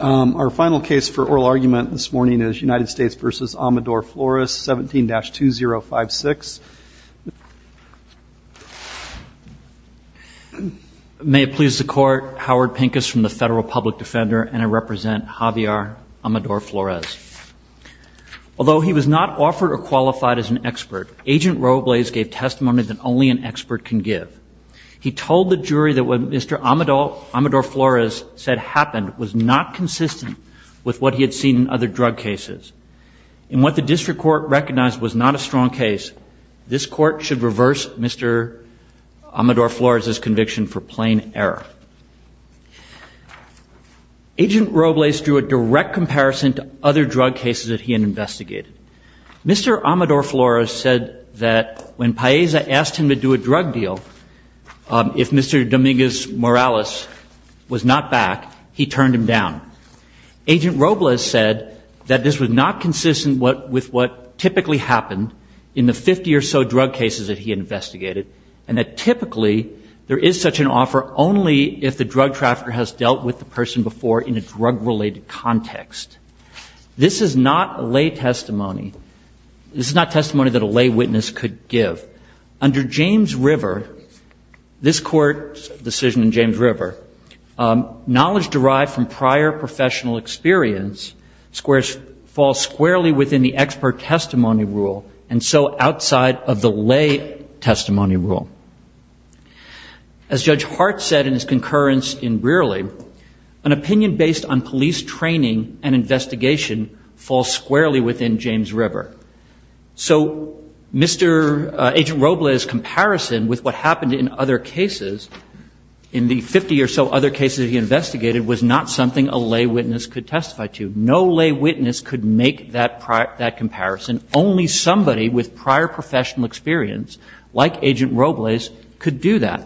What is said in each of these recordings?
Our final case for oral argument this morning is United States v. Amador-Flores, 17-2056. May it please the Court, Howard Pincus from the Federal Public Defender, and I represent Javier Amador-Flores. Although he was not offered or qualified as an expert, Agent Robles gave testimony that only an expert can give. He told the jury that what Mr. Amador-Flores said happened was not consistent with what he had seen in other drug cases. In what the District Court recognized was not a strong case, this Court should reverse Mr. Amador-Flores' conviction for plain error. Agent Robles drew a direct comparison to other drug cases that he had investigated. Mr. Amador-Flores said that when Paeza asked him to do a drug deal, if Mr. Dominguez-Morales was not back, he turned him down. Agent Robles said that this was not consistent with what typically happened in the 50 or so drug cases that he investigated, and that typically there is such an offer only if the drug trafficker has dealt with the person before in a drug-related context. This is not a lay testimony, this is not testimony that a lay witness could give. Under James River, this Court's decision in James River, knowledge derived from prior professional experience falls squarely within the expert testimony rule, and so outside of the lay testimony rule. As Judge Hart said in his concurrence in Brearley, an opinion based on police training and investigation falls squarely within James River. So Mr. Agent Robles' comparison with what happened in other cases, in the 50 or so other cases he investigated, was not something a lay witness could testify to. No lay witness could make that comparison. Only somebody with prior professional experience, like Agent Robles, could do that.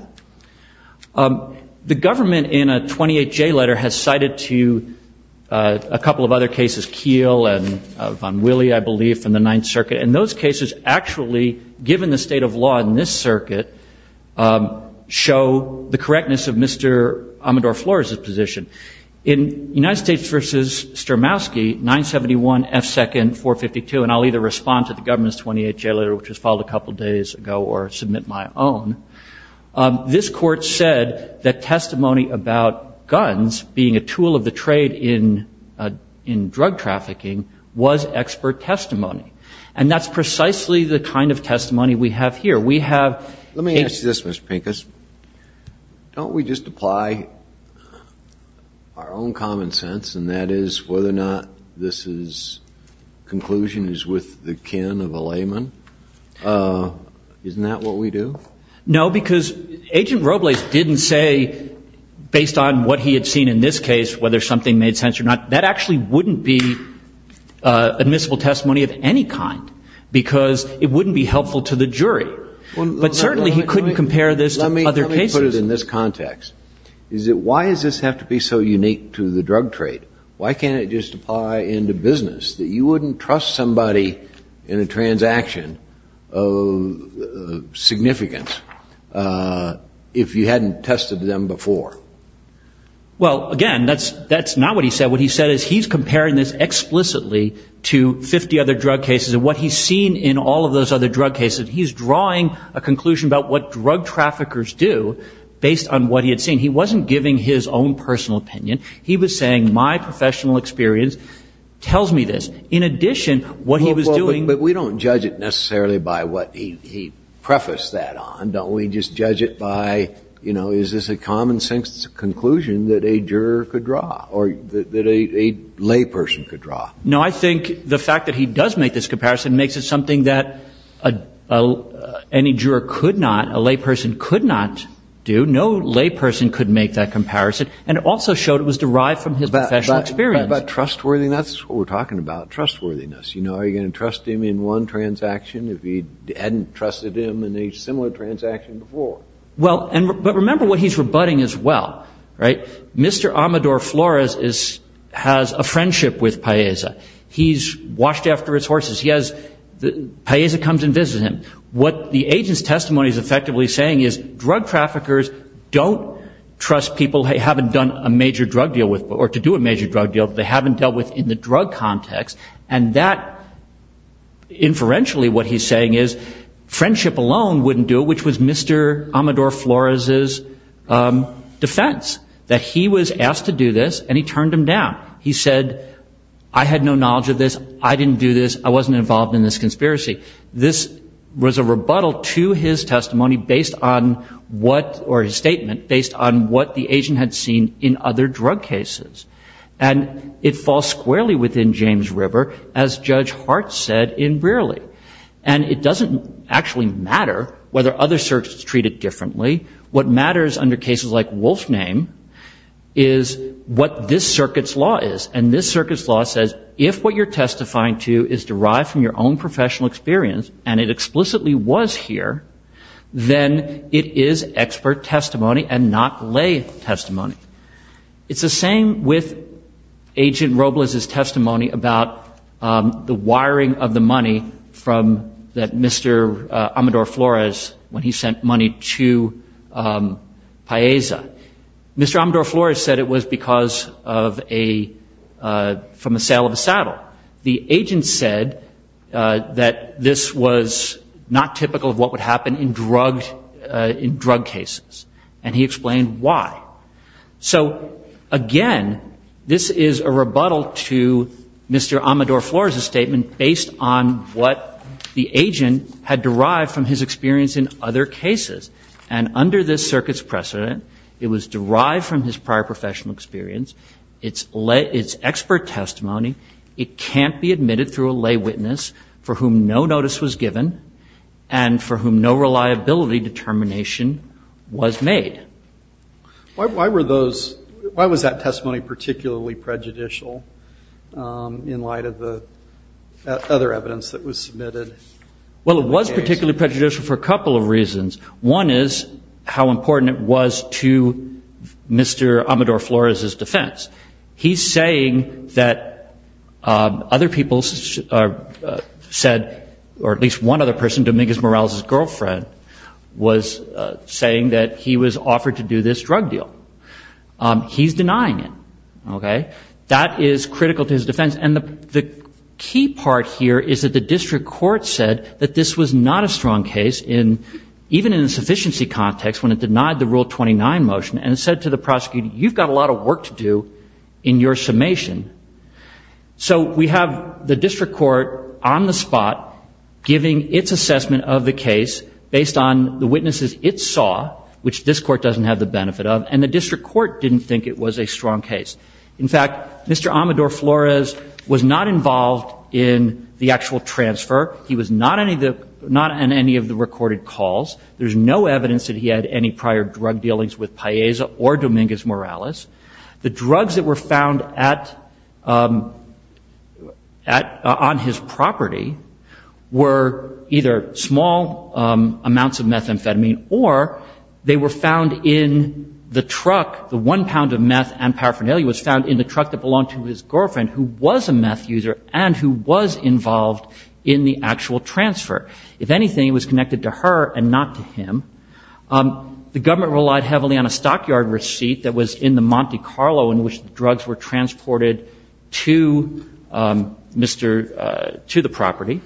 The government, in a 28J letter, has cited to a couple of other cases, Keel and Von Willey, I believe, from the Ninth Circuit, and those cases actually, given the state of law in this circuit, show the correctness of Mr. Amador-Flores' position. In United States v. Sturmowski, 971 F. 2nd 452, and I'll either read it out or I'll just read it out, and respond to the government's 28J letter, which was filed a couple days ago, or submit my own, this Court said that testimony about guns being a tool of the trade in drug trafficking was expert testimony. And that's precisely the kind of testimony we have here. We have... The kin of a layman, isn't that what we do? No, because Agent Robles didn't say, based on what he had seen in this case, whether something made sense or not, that actually wouldn't be admissible testimony of any kind, because it wouldn't be helpful to the jury. But certainly he couldn't compare this to other cases. Let me put it in this context. Why does this have to be so unique to the drug trade? Why can't it just apply into business, that you wouldn't trust somebody in a transaction of significance, if you hadn't tested them before? Well, again, that's not what he said. What he said is he's comparing this explicitly to 50 other drug cases, and what he's seen in all of those other drug cases, he's drawing a conclusion about what drug traffickers do, based on what he had seen. He wasn't giving his own personal opinion. He was saying, my professional experience tells me this. In addition, what he was doing... But we don't judge it necessarily by what he prefaced that on, don't we? We just judge it by, you know, is this a common-sense conclusion that a juror could draw, or that a layperson could draw? No, I think the fact that he does make this comparison makes it something that any juror could not, a layperson could not do. No layperson could make that comparison, and it also showed it was derived from his professional experience. But trustworthiness, we're talking about trustworthiness. You know, are you going to trust him in one transaction if you hadn't trusted him in a similar transaction before? Well, but remember what he's rebutting as well, right? Mr. Amador Flores has a friendship with Paeza. He's washed after his horses. Paeza comes and visits him. What the agent's testimony is effectively saying is drug traffickers don't trust people they haven't done a major drug deal with, or to do a major drug deal that they haven't dealt with in the drug context. And that, inferentially, what he's saying is friendship alone wouldn't do it, which was Mr. Amador Flores' defense, that he was asked to do this, and he turned him down. He said, I had no knowledge of this, I didn't do this, I wasn't involved in this conspiracy. This was a rebuttal to his testimony based on what, or his statement, based on what the agent had seen in other drug cases. And it falls squarely within James River, as Judge Hart said in Brearley. And it doesn't actually matter whether other circuits treat it differently. What matters under cases like Wolfname is what this circuit's law is. And this circuit's law says if what you're testifying to is derived from your own professional experience, and it explicitly was here, then it is expert testimony and not lay testimony. It's the same with Agent Robles' testimony about the wiring of the money from that Mr. Amador Flores, when he sent money to Paisa. Mr. Amador Flores said it was because of a, from a sale of a saddle. The agent said that this was not typical of what would happen in drug cases. And he explained why. So, again, this is a rebuttal to Mr. Amador Flores' statement based on what the agent had derived from his experience in other cases. And under this circuit's precedent, it was derived from his prior professional experience. It's expert testimony. It can't be admitted through a lay witness for whom no notice was given and for whom no reliability determination was given. It's made. Why were those, why was that testimony particularly prejudicial in light of the other evidence that was submitted? Well, it was particularly prejudicial for a couple of reasons. One is how important it was to Mr. Amador Flores' defense. He's saying that other people said, or at least one other person, Dominguez Morales' girlfriend, was saying that he was offered to do this drug deal. He's denying it. Okay? That is critical to his defense. And the key part here is that the district court said that this was not a strong case in, even in a sufficiency context, when it denied the Rule 29 motion. And it said to the prosecutor, you've got a lot of work to do in your summation. So we have the district court on the spot giving its assessment of the case based on the witnesses it saw, which this is a case that this court doesn't have the benefit of, and the district court didn't think it was a strong case. In fact, Mr. Amador Flores was not involved in the actual transfer. He was not on any of the recorded calls. There's no evidence that he had any prior drug dealings with Paisa or Dominguez Morales. The drugs that were found on his property were either small amounts of methamphetamine, or they were found in the truck. The one pound of meth and paraphernalia was found in the truck that belonged to his girlfriend, who was a meth user, and who was involved in the actual transfer. If anything, it was connected to her and not to him. The government relied heavily on a stockyard receipt that was in the Monte Carlo in which the drugs were transported to the property.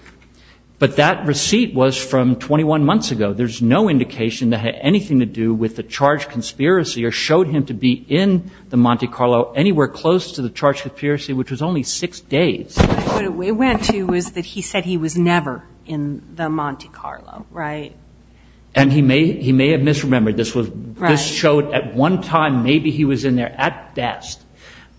But that receipt was from 21 months ago. There's no indication that it had anything to do with the charge conspiracy or showed him to be in the Monte Carlo anywhere close to the charge conspiracy, which was only six days. But what it went to was that he said he was never in the Monte Carlo, right? And he may have misremembered. This showed at one time maybe he was in there at best.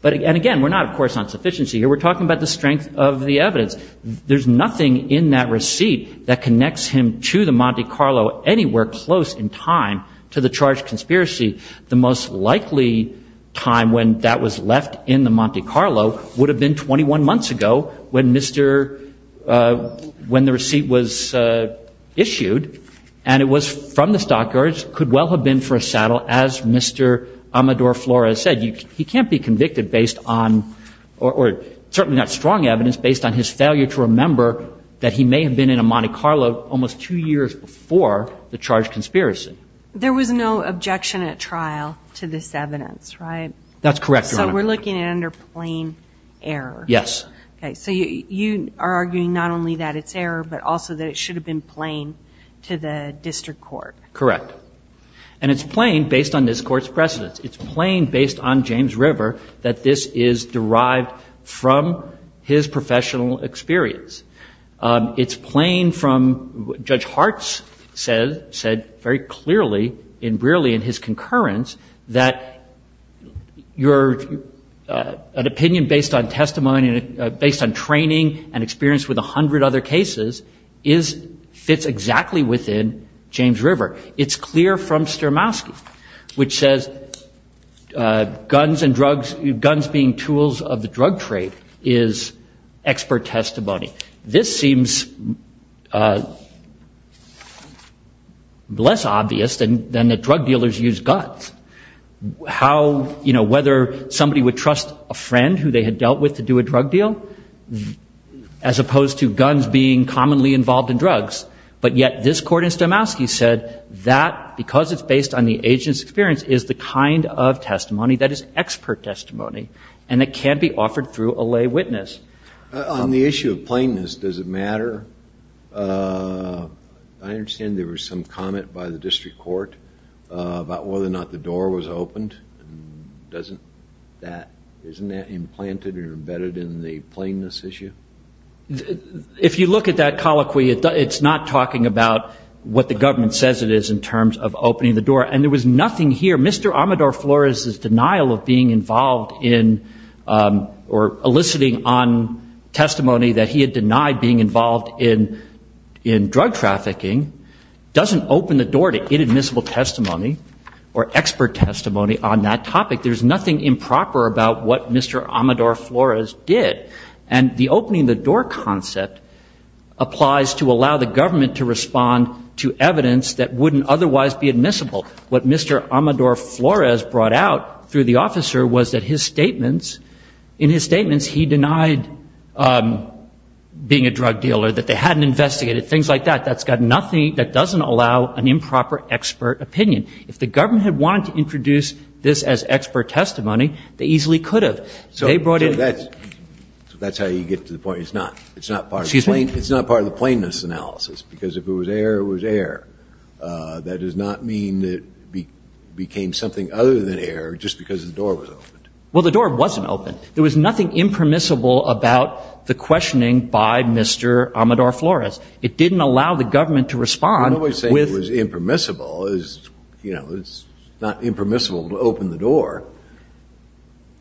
And again, we're not, of course, on sufficiency here. We're talking about the strength of the evidence. There's nothing in that receipt that connects him to the Monte Carlo anywhere close in time to the charge conspiracy. The most likely time when that was left in the Monte Carlo would have been 21 months ago when the receipt was issued, and it was from the stockyards, could well have been for a saddle, as Mr. Amador Flores said. He can't be convicted based on, or certainly not strong evidence, based on his failure to remember that he may have been in a Monte Carlo almost two years before the charge conspiracy. There was no objection at trial to this evidence, right? That's correct, Your Honor. So we're looking at it under plain error. Yes. Okay, so you are arguing not only that it's error, but also that it should have been plain to the district court. Correct. And it's plain based on this Court's precedence. It's plain based on James River that this is derived from his professional experience. It's plain from what Judge Hartz said very clearly in Brearley in his concurrence, that your opinion based on testimony, based on training and experience with 100 other cases, fits exactly within James River. It's clear from Stermowski, which says guns and drugs, guns being tools of the drug trade, is expert testimony. This seems less obvious than that drug dealers use guns. How, you know, whether somebody would trust a friend who they had dealt with to do a drug deal, as opposed to guns being commonly involved in drugs. But yet this Court in Stermowski said that, because it's based on the agent's experience, is the kind of testimony that is expert testimony, and it can't be offered through a lay witness. On the issue of plainness, does it matter? I understand there was some comment by the district court about whether or not the door was opened. Doesn't that, isn't that implanted or embedded in the plainness issue? If you look at that colloquy, it's not talking about what the government says it is in terms of opening the door. And there was nothing here. Mr. Amador-Flores' denial of being involved in, or eliciting on testimony that he had denied being involved in drug trafficking, doesn't open the door to inadmissible testimony or expert testimony on that topic. There's nothing improper about what Mr. Amador-Flores did. And the opening the door concept applies to allow the government to respond to evidence that wouldn't otherwise be admissible. What Mr. Amador-Flores brought out through the officer was that his statements, in his statements he denied being a drug dealer, that they hadn't investigated, things like that. That's got nothing that doesn't allow an improper expert opinion. If the government had wanted to introduce this as expert testimony, they easily could have. So they brought in So that's how you get to the point. It's not part of the plainness analysis, because if it was air, it was air. That does not mean it became something other than air just because the door was opened. Well, the door wasn't open. There was nothing impermissible about the questioning by Mr. Amador-Flores. It didn't allow the government to respond. I'm not saying it was impermissible. It's not impermissible to open the door.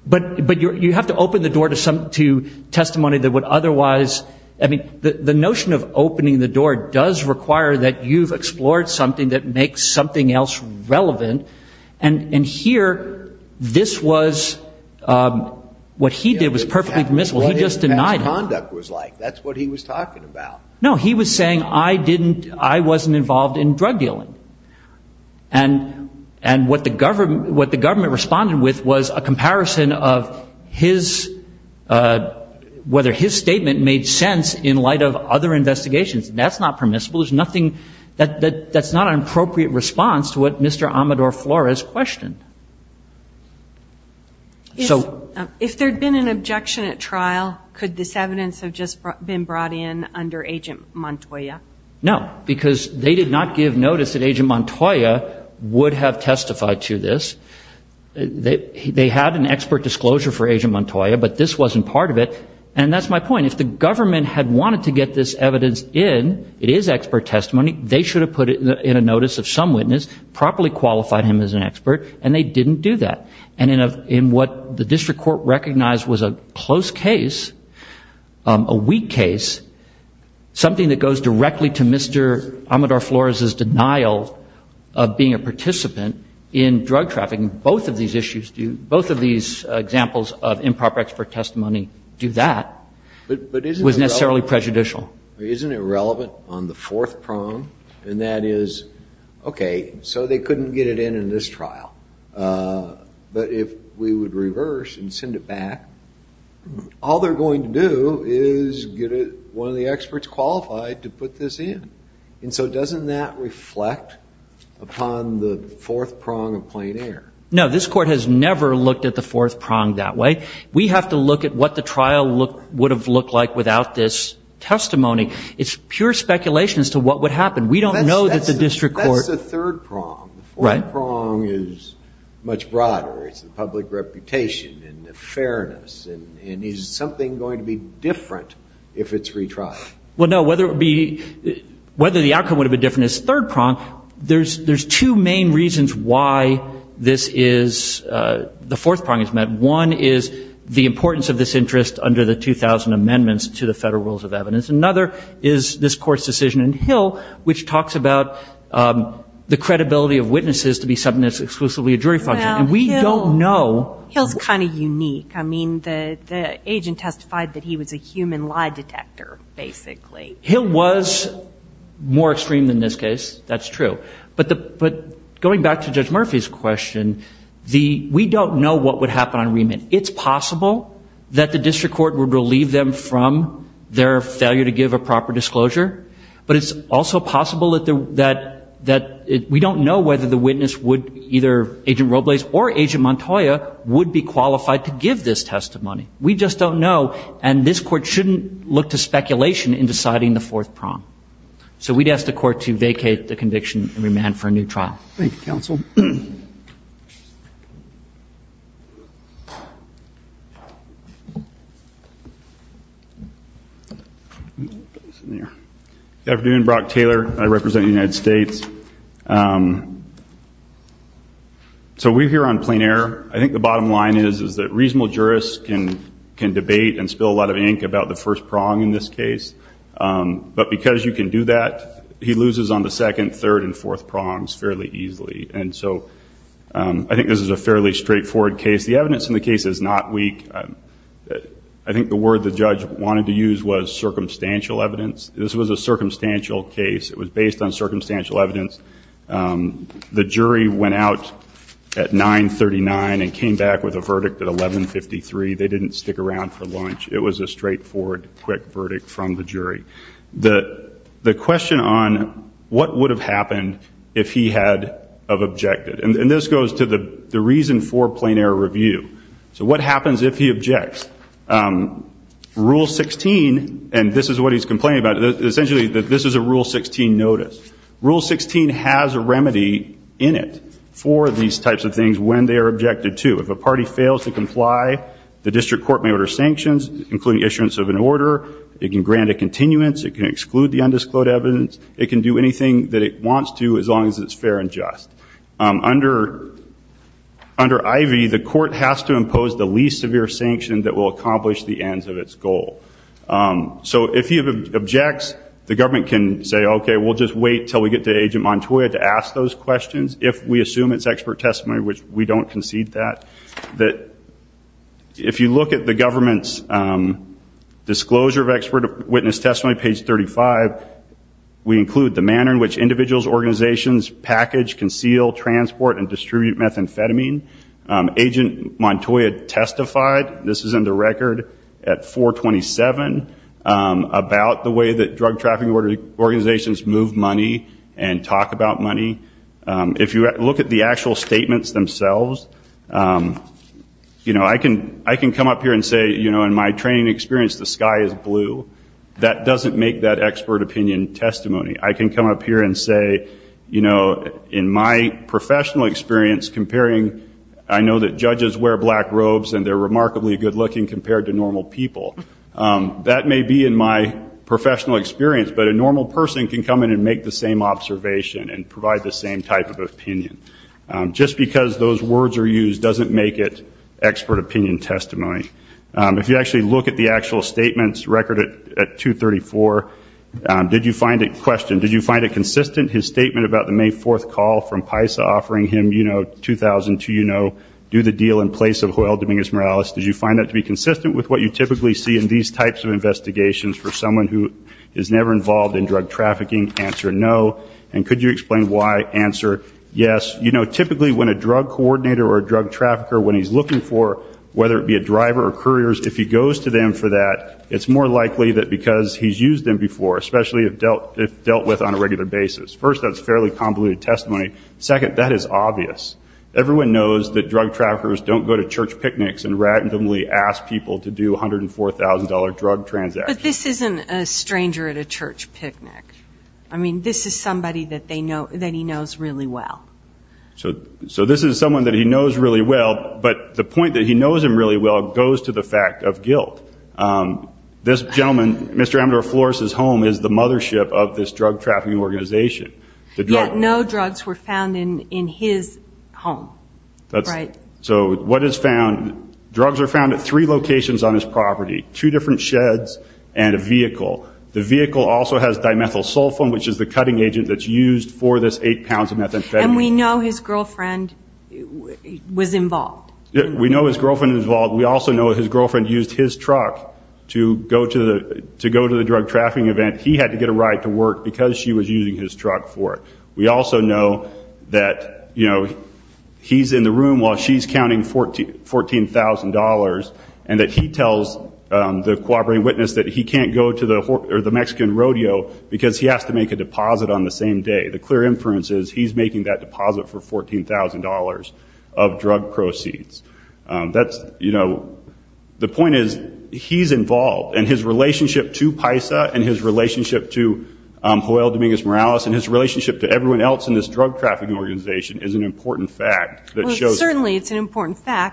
But you have to open the door to testimony that would otherwise, I mean, the notion of opening the door does require that you've explored something that makes something else relevant. And here this was, what he did was perfectly permissible. He just denied it. That's what his conduct was like. That's what he was talking about. No, he was saying I wasn't involved in drug dealing. And what the government responded with was a comparison of whether his statement made sense in light of other investigations. That's not permissible. There's nothing that's not an appropriate response to what Mr. Amador-Flores questioned. So if there had been an objection at trial, could this evidence have just been brought in under Agent Montoya? No, because they did not give notice that Agent Montoya would have testified to this. They had an expert disclosure for Agent Montoya, but this wasn't part of it. And that's my point. If the government had wanted to get this evidence in, it is expert testimony, they should have put it in a notice of some witness, properly qualified him as an expert, and they didn't do that. And in what the district court recognized was a close case, a weak case, something that goes directly to Mr. Amador-Flores' denial of being a participant in drug trafficking. Both of these issues, both of these examples of improper expert testimony do that, was necessarily prejudicial. Isn't it relevant on the fourth prong, and that is, okay, so they couldn't get it in in this trial. But if we would reverse and send it back, all they're going to do is get one of the experts qualified to put this in. And so doesn't that reflect upon the fourth prong of plain error? No, this court has never looked at the fourth prong that way. We have to look at what the trial would have looked like without this testimony. It's pure speculation as to what would happen. We don't know that the district court That's the third prong. The fourth prong is much broader. It's the public reputation and the fairness, and is something going to be different if it's retried? Well, no, whether the outcome would have been different is the third prong. There's two main reasons why the fourth prong is met. One is the importance of this interest under the 2000 amendments to the federal rules of evidence. Another is this court's decision in Hill, which talks about the credibility of witnesses to be something that's exclusively a jury function. And we don't know Hill's kind of unique. I mean, the agent testified that he was a human lie detector, basically. Hill was more extreme than this case. That's true. But going back to Judge Murphy's question, we don't know what would happen on remit. And it's possible that the district court would relieve them from their failure to give a proper disclosure. But it's also possible that we don't know whether the witness would either, Agent Robles or Agent Montoya, would be qualified to give this testimony. We just don't know. And this court shouldn't look to speculation in deciding the fourth prong. So we'd ask the court to vacate the conviction and remand for a new trial. Good afternoon, Brock Taylor. I represent the United States. So we're here on plain error. I think the bottom line is that reasonable jurists can debate and spill a lot of ink about the first prong in this case. But because you can do that, he loses on the second, third and fourth prongs fairly easily. And so I think this is a fairly straightforward case. The evidence in the case is not weak. I think the word the judge wanted to use was circumstantial evidence. This was a circumstantial case. It was based on circumstantial evidence. The jury went out at 939 and came back with a verdict at 1153. They didn't stick around for lunch. It was a straightforward, quick verdict from the jury. The question on what would have happened if he had objected. And this goes to the reason for plain error review. So what happens if he objects? Rule 16, and this is what he's complaining about. Essentially, this is a Rule 16 notice. Rule 16 has a remedy in it for these types of things when they are objected to. If a party fails to comply, the district court may order sanctions, including issuance of an order. It can grant a continuance. It can exclude the undisclosed evidence. It can do anything that it wants to as long as it's fair and just. Under IV, the court has to impose the least severe sanction that will accomplish the ends of its goal. So if he objects, the government can say, OK, we'll just wait until we get to Agent Montoya to ask those questions. If we assume it's expert testimony, which we don't concede that. If you look at the government's disclosure of expert witness testimony, page 35, we include the manner in which individuals, organizations package, conceal, transport and distribute methamphetamine. Agent Montoya testified, this is in the record at 427, about the way that drug trafficking organizations move money and talk about money. If you look at the actual statements themselves, I can come up here and say, in my training experience, the sky is blue. That doesn't make that expert opinion testimony. I can come up here and say, in my professional experience, I know that judges wear black robes and they're remarkably good looking compared to normal people. That may be in my professional experience, but a normal person can come in and make the same observation and provide the same type of opinion. Just because those words are used doesn't make it expert opinion testimony. If you actually look at the actual statements, record at 234, did you find it, question, did you find it consistent, his statement about the May 4th call from PISA offering him, you know, 2,000 to, you know, do the deal in place of Joel Dominguez Morales, did you find that to be consistent with what you typically see in these types of investigations for someone who is never involved in drug trafficking? Answer no. And could you explain why? Answer yes. You know, typically when a drug coordinator or a drug trafficker, when he's looking for, whether it be a driver or couriers, if he goes to them for that, it's more likely that because he's used them before, especially if dealt with on a regular basis. First, that's fairly convoluted testimony. Second, that is obvious. Everyone knows that drug traffickers don't go to church picnics and randomly ask people to do $104,000 drug transactions. But this isn't a stranger at a church picnic. I mean, this is somebody that they know, that he knows really well. So this is someone that he knows really well, but the point that he knows him really well goes to the fact of guilt. This gentleman, Mr. Amador Flores' home is the mothership of this drug trafficking organization. Yet no drugs were found in his home. So what is found? Drugs are found at three locations on his property, two different sheds and a vehicle. The vehicle also has dimethyl sulfone, which is the cutting agent that's used for this eight pounds of methamphetamine. And we know his girlfriend was involved. We know his girlfriend was involved. We also know his girlfriend used his truck to go to the drug trafficking event. He had to get a ride to work because she was using his truck for it. We also know that he's in the room while she's counting $14,000 and that he tells the cooperating witness that he can't go to the Mexican rodeo because he has to make a deposit on the same day. The clear inference is he's making that deposit for $14,000 of drug proceeds. That's, you know, the point is he's involved. And his relationship to Paisa and his relationship to Joel Dominguez-Morales and his relationship to everyone else in this drug trafficking organization is an important fact that shows... that he didn't get involved. And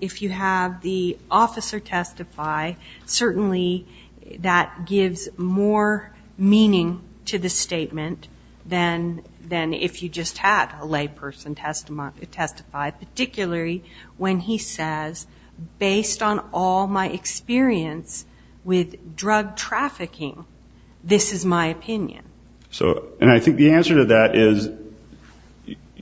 if you have the officer testify, certainly that gives more meaning to the statement than if you just had a layperson testify, particularly when he says, based on all my experience with drug trafficking, this is my opinion. And I think the answer to that is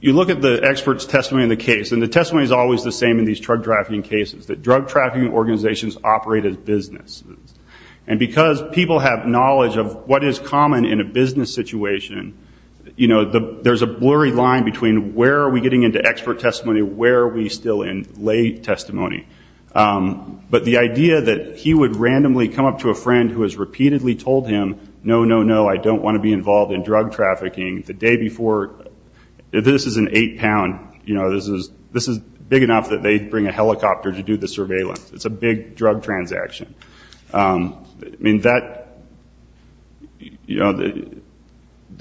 you look at the expert's testimony in the case, and the testimony is always the same in these drug trafficking cases, that drug trafficking organizations operate as businesses. And because people have knowledge of what is common in a business situation, there's a blurry line between where are we getting into expert testimony, where are we still in lay testimony. But the idea that he would randomly come up to a friend who has repeatedly told him, no, no, no, I don't want to be involved in drug trafficking. The day before, this is an eight pound, this is big enough that they bring a helicopter to do the surveillance. It's a big drug transaction. The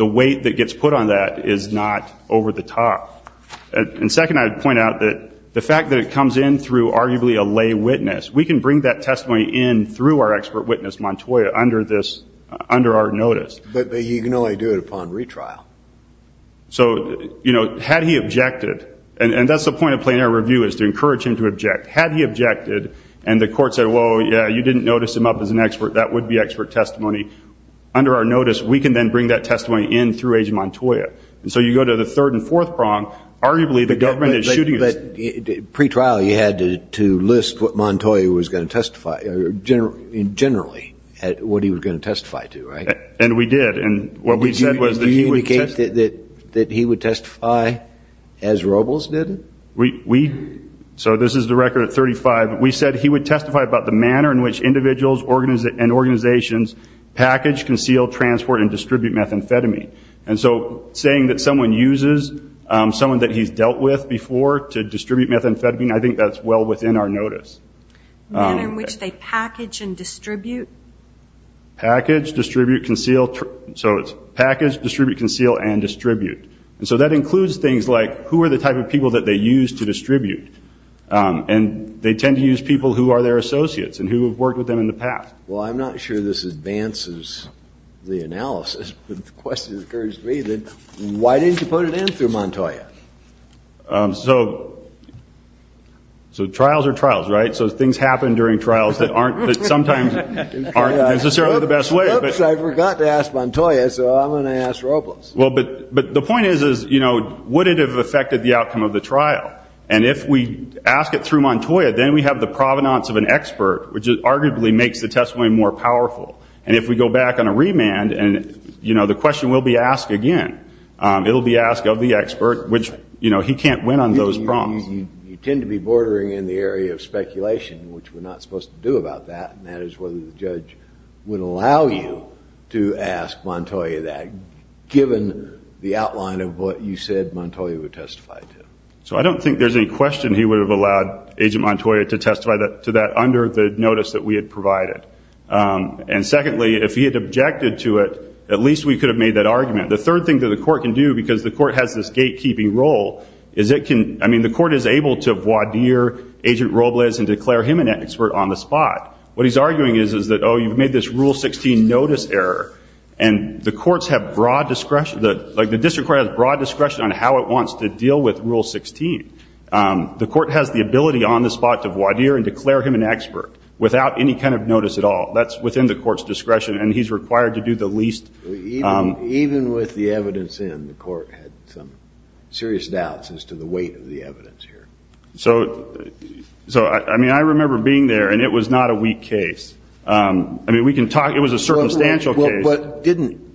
weight that gets put on that is not over the top. And second, I would point out that the fact that it comes in through arguably a lay witness, we can bring that testimony in through our expert witness, Montoya, under our notice. But you can only do it upon retrial. So had he objected, and that's the point of plenary review is to encourage him to object. Had he objected and the court said, whoa, yeah, you didn't notice him up as an expert, that would be expert testimony. Under our notice, we can then bring that testimony in through Agent Montoya. And so you go to the third and fourth prong, arguably the government is shooting us. But pre-trial you had to list what Montoya was going to testify, generally, what he was going to testify to, right? And we did. Do you indicate that he would testify as Robles did? So this is the record at 35. We said he would testify about the manner in which individuals and organizations package, conceal, transport, and distribute methamphetamine. And so saying that someone uses someone that he's dealt with before to distribute methamphetamine, I think that's well within our notice. Manner in which they package and distribute? Package, distribute, conceal, and distribute. And so that includes things like who are the type of people that they use to distribute. And they tend to use people who are their associates and who have worked with them in the past. Well, I'm not sure this advances the analysis, but the question that occurs to me, why didn't you put it in through Montoya? So trials are trials, right? So things happen during trials that sometimes aren't necessarily the best way. Oops, I forgot to ask Montoya, so I'm going to ask Robles. But the point is, would it have affected the outcome of the trial? And if we ask it through Montoya, then we have the provenance of an expert, which arguably makes the testimony more powerful. And if we go back on a remand, the question will be asked again. It will be asked of the expert, which he can't win on those prompts. You tend to be bordering in the area of speculation, which we're not supposed to do about that. And that is whether the judge would allow you to ask Montoya that, given the outline of what you said Montoya would testify to. So I don't think there's any question he would have allowed Agent Montoya to testify to that under the notice that we had provided. And secondly, if he had objected to it, at least we could have made that argument. The third thing that the court can do, because the court has this gatekeeping role, is it can, I mean, the court is able to voir dire Agent Robles and declare him an expert on the spot. What he's arguing is that, oh, you've made this Rule 16 notice error, and the courts have broad discretion, like the district court has broad discretion on how it wants to deal with Rule 16. The court has the ability on the spot to voir dire and declare him an expert without any kind of notice at all. That's within the court's discretion, and he's required to do the least. Even with the evidence in, the court had some serious doubts as to the weight of the evidence here. So, I mean, I remember being there, and it was not a weak case. I mean, we can talk, it was a circumstantial case. But didn't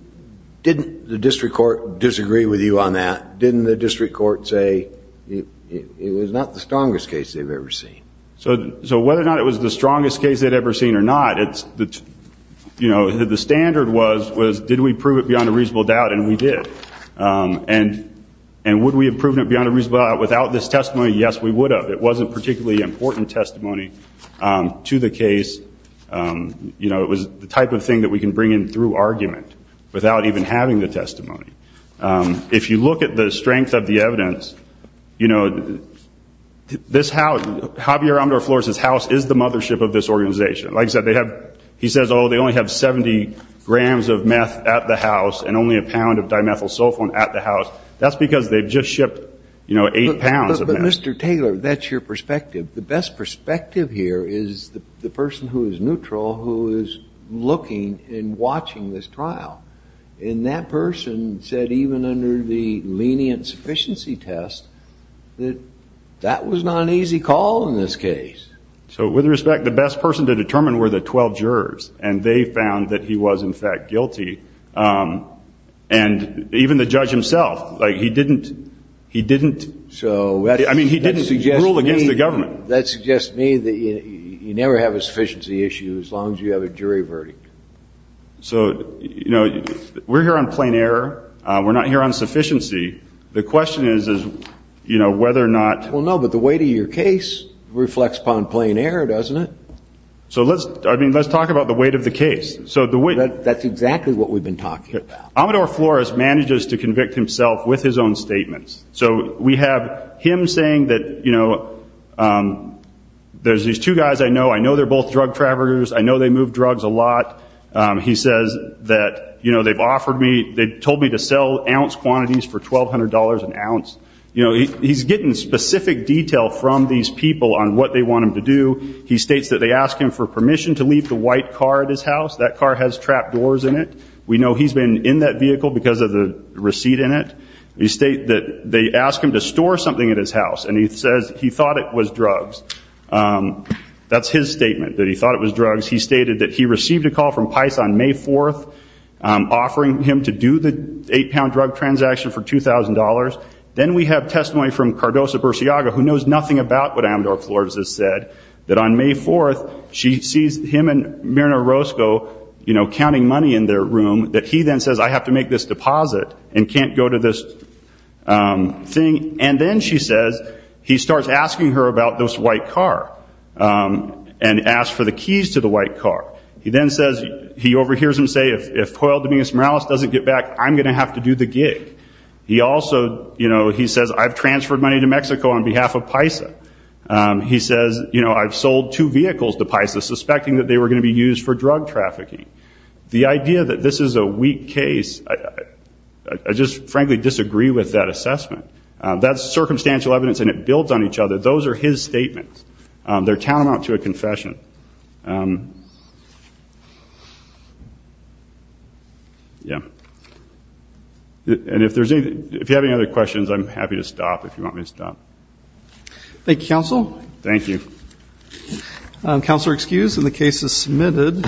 the district court disagree with you on that? Didn't the district court say it was not the strongest case they've ever seen? So whether or not it was the strongest case they'd ever seen or not, the standard was did we prove it beyond a reasonable doubt, and we did. And would we have proven it beyond a reasonable doubt without this testimony? Yes, we would have. It wasn't a particularly important testimony to the case. It was the type of thing that we can bring in through argument without even having the testimony. If you look at the strength of the evidence, you know, this house, Javier Amador Flores' house is the mothership of this organization. Like I said, they have, he says, oh, they only have 70 grams of meth at the house and only a pound of dimethyl sulfone at the house. That's because they've just shipped, you know, eight pounds of meth. But, Mr. Taylor, that's your perspective. The best perspective here is the person who is neutral who is looking and watching this trial. And that person said even under the lenient sufficiency test that that was not an easy call in this case. So with respect, the best person to determine were the 12 jurors. And they found that he was, in fact, guilty. And even the judge himself, like he didn't, he didn't, I mean, he didn't rule against the government. That suggests to me that you never have a sufficiency issue as long as you have a jury verdict. So, you know, we're here on plain error. We're not here on sufficiency. The question is, you know, whether or not. Well, no, but the weight of your case reflects upon plain error, doesn't it? So let's, I mean, let's talk about the weight of the case. So the weight. That's exactly what we've been talking about. Amador Flores manages to convict himself with his own statements. So we have him saying that, you know, there's these two guys I know. I know they're both drug traffickers. I know they move drugs a lot. He says that, you know, they've offered me, they told me to sell ounce quantities for $1,200 an ounce. You know, he's getting specific detail from these people on what they want him to do. He states that they ask him for permission to leave the white car at his house. That car has trap doors in it. We know he's been in that vehicle because of the receipt in it. They state that they ask him to store something at his house. And he says he thought it was drugs. That's his statement, that he thought it was drugs. He stated that he received a call from PICE on May 4th offering him to do the eight-pound drug transaction for $2,000. Then we have testimony from Cardoza-Burciaga, who knows nothing about what Amador Flores has said, that on May 4th she sees him and Myrna Orozco, you know, counting money in their room, that he then says, I have to make this deposit and can't go to this thing. And then, she says, he starts asking her about this white car and asks for the keys to the white car. He then says, he overhears him say, if Poyal Dominguez-Morales doesn't get back, I'm going to have to do the gig. He also, you know, he says, I've transferred money to Mexico on behalf of PISA. He says, you know, I've sold two vehicles to PISA, suspecting that they were going to be used for drug trafficking. The idea that this is a weak case, I just frankly disagree with that assessment. That's circumstantial evidence and it builds on each other. Those are his statements. They're tantamount to a confession. Yeah. And if you have any other questions, I'm happy to stop if you want me to stop. Thank you, counsel. Thank you. Counsel are excused and the case is submitted.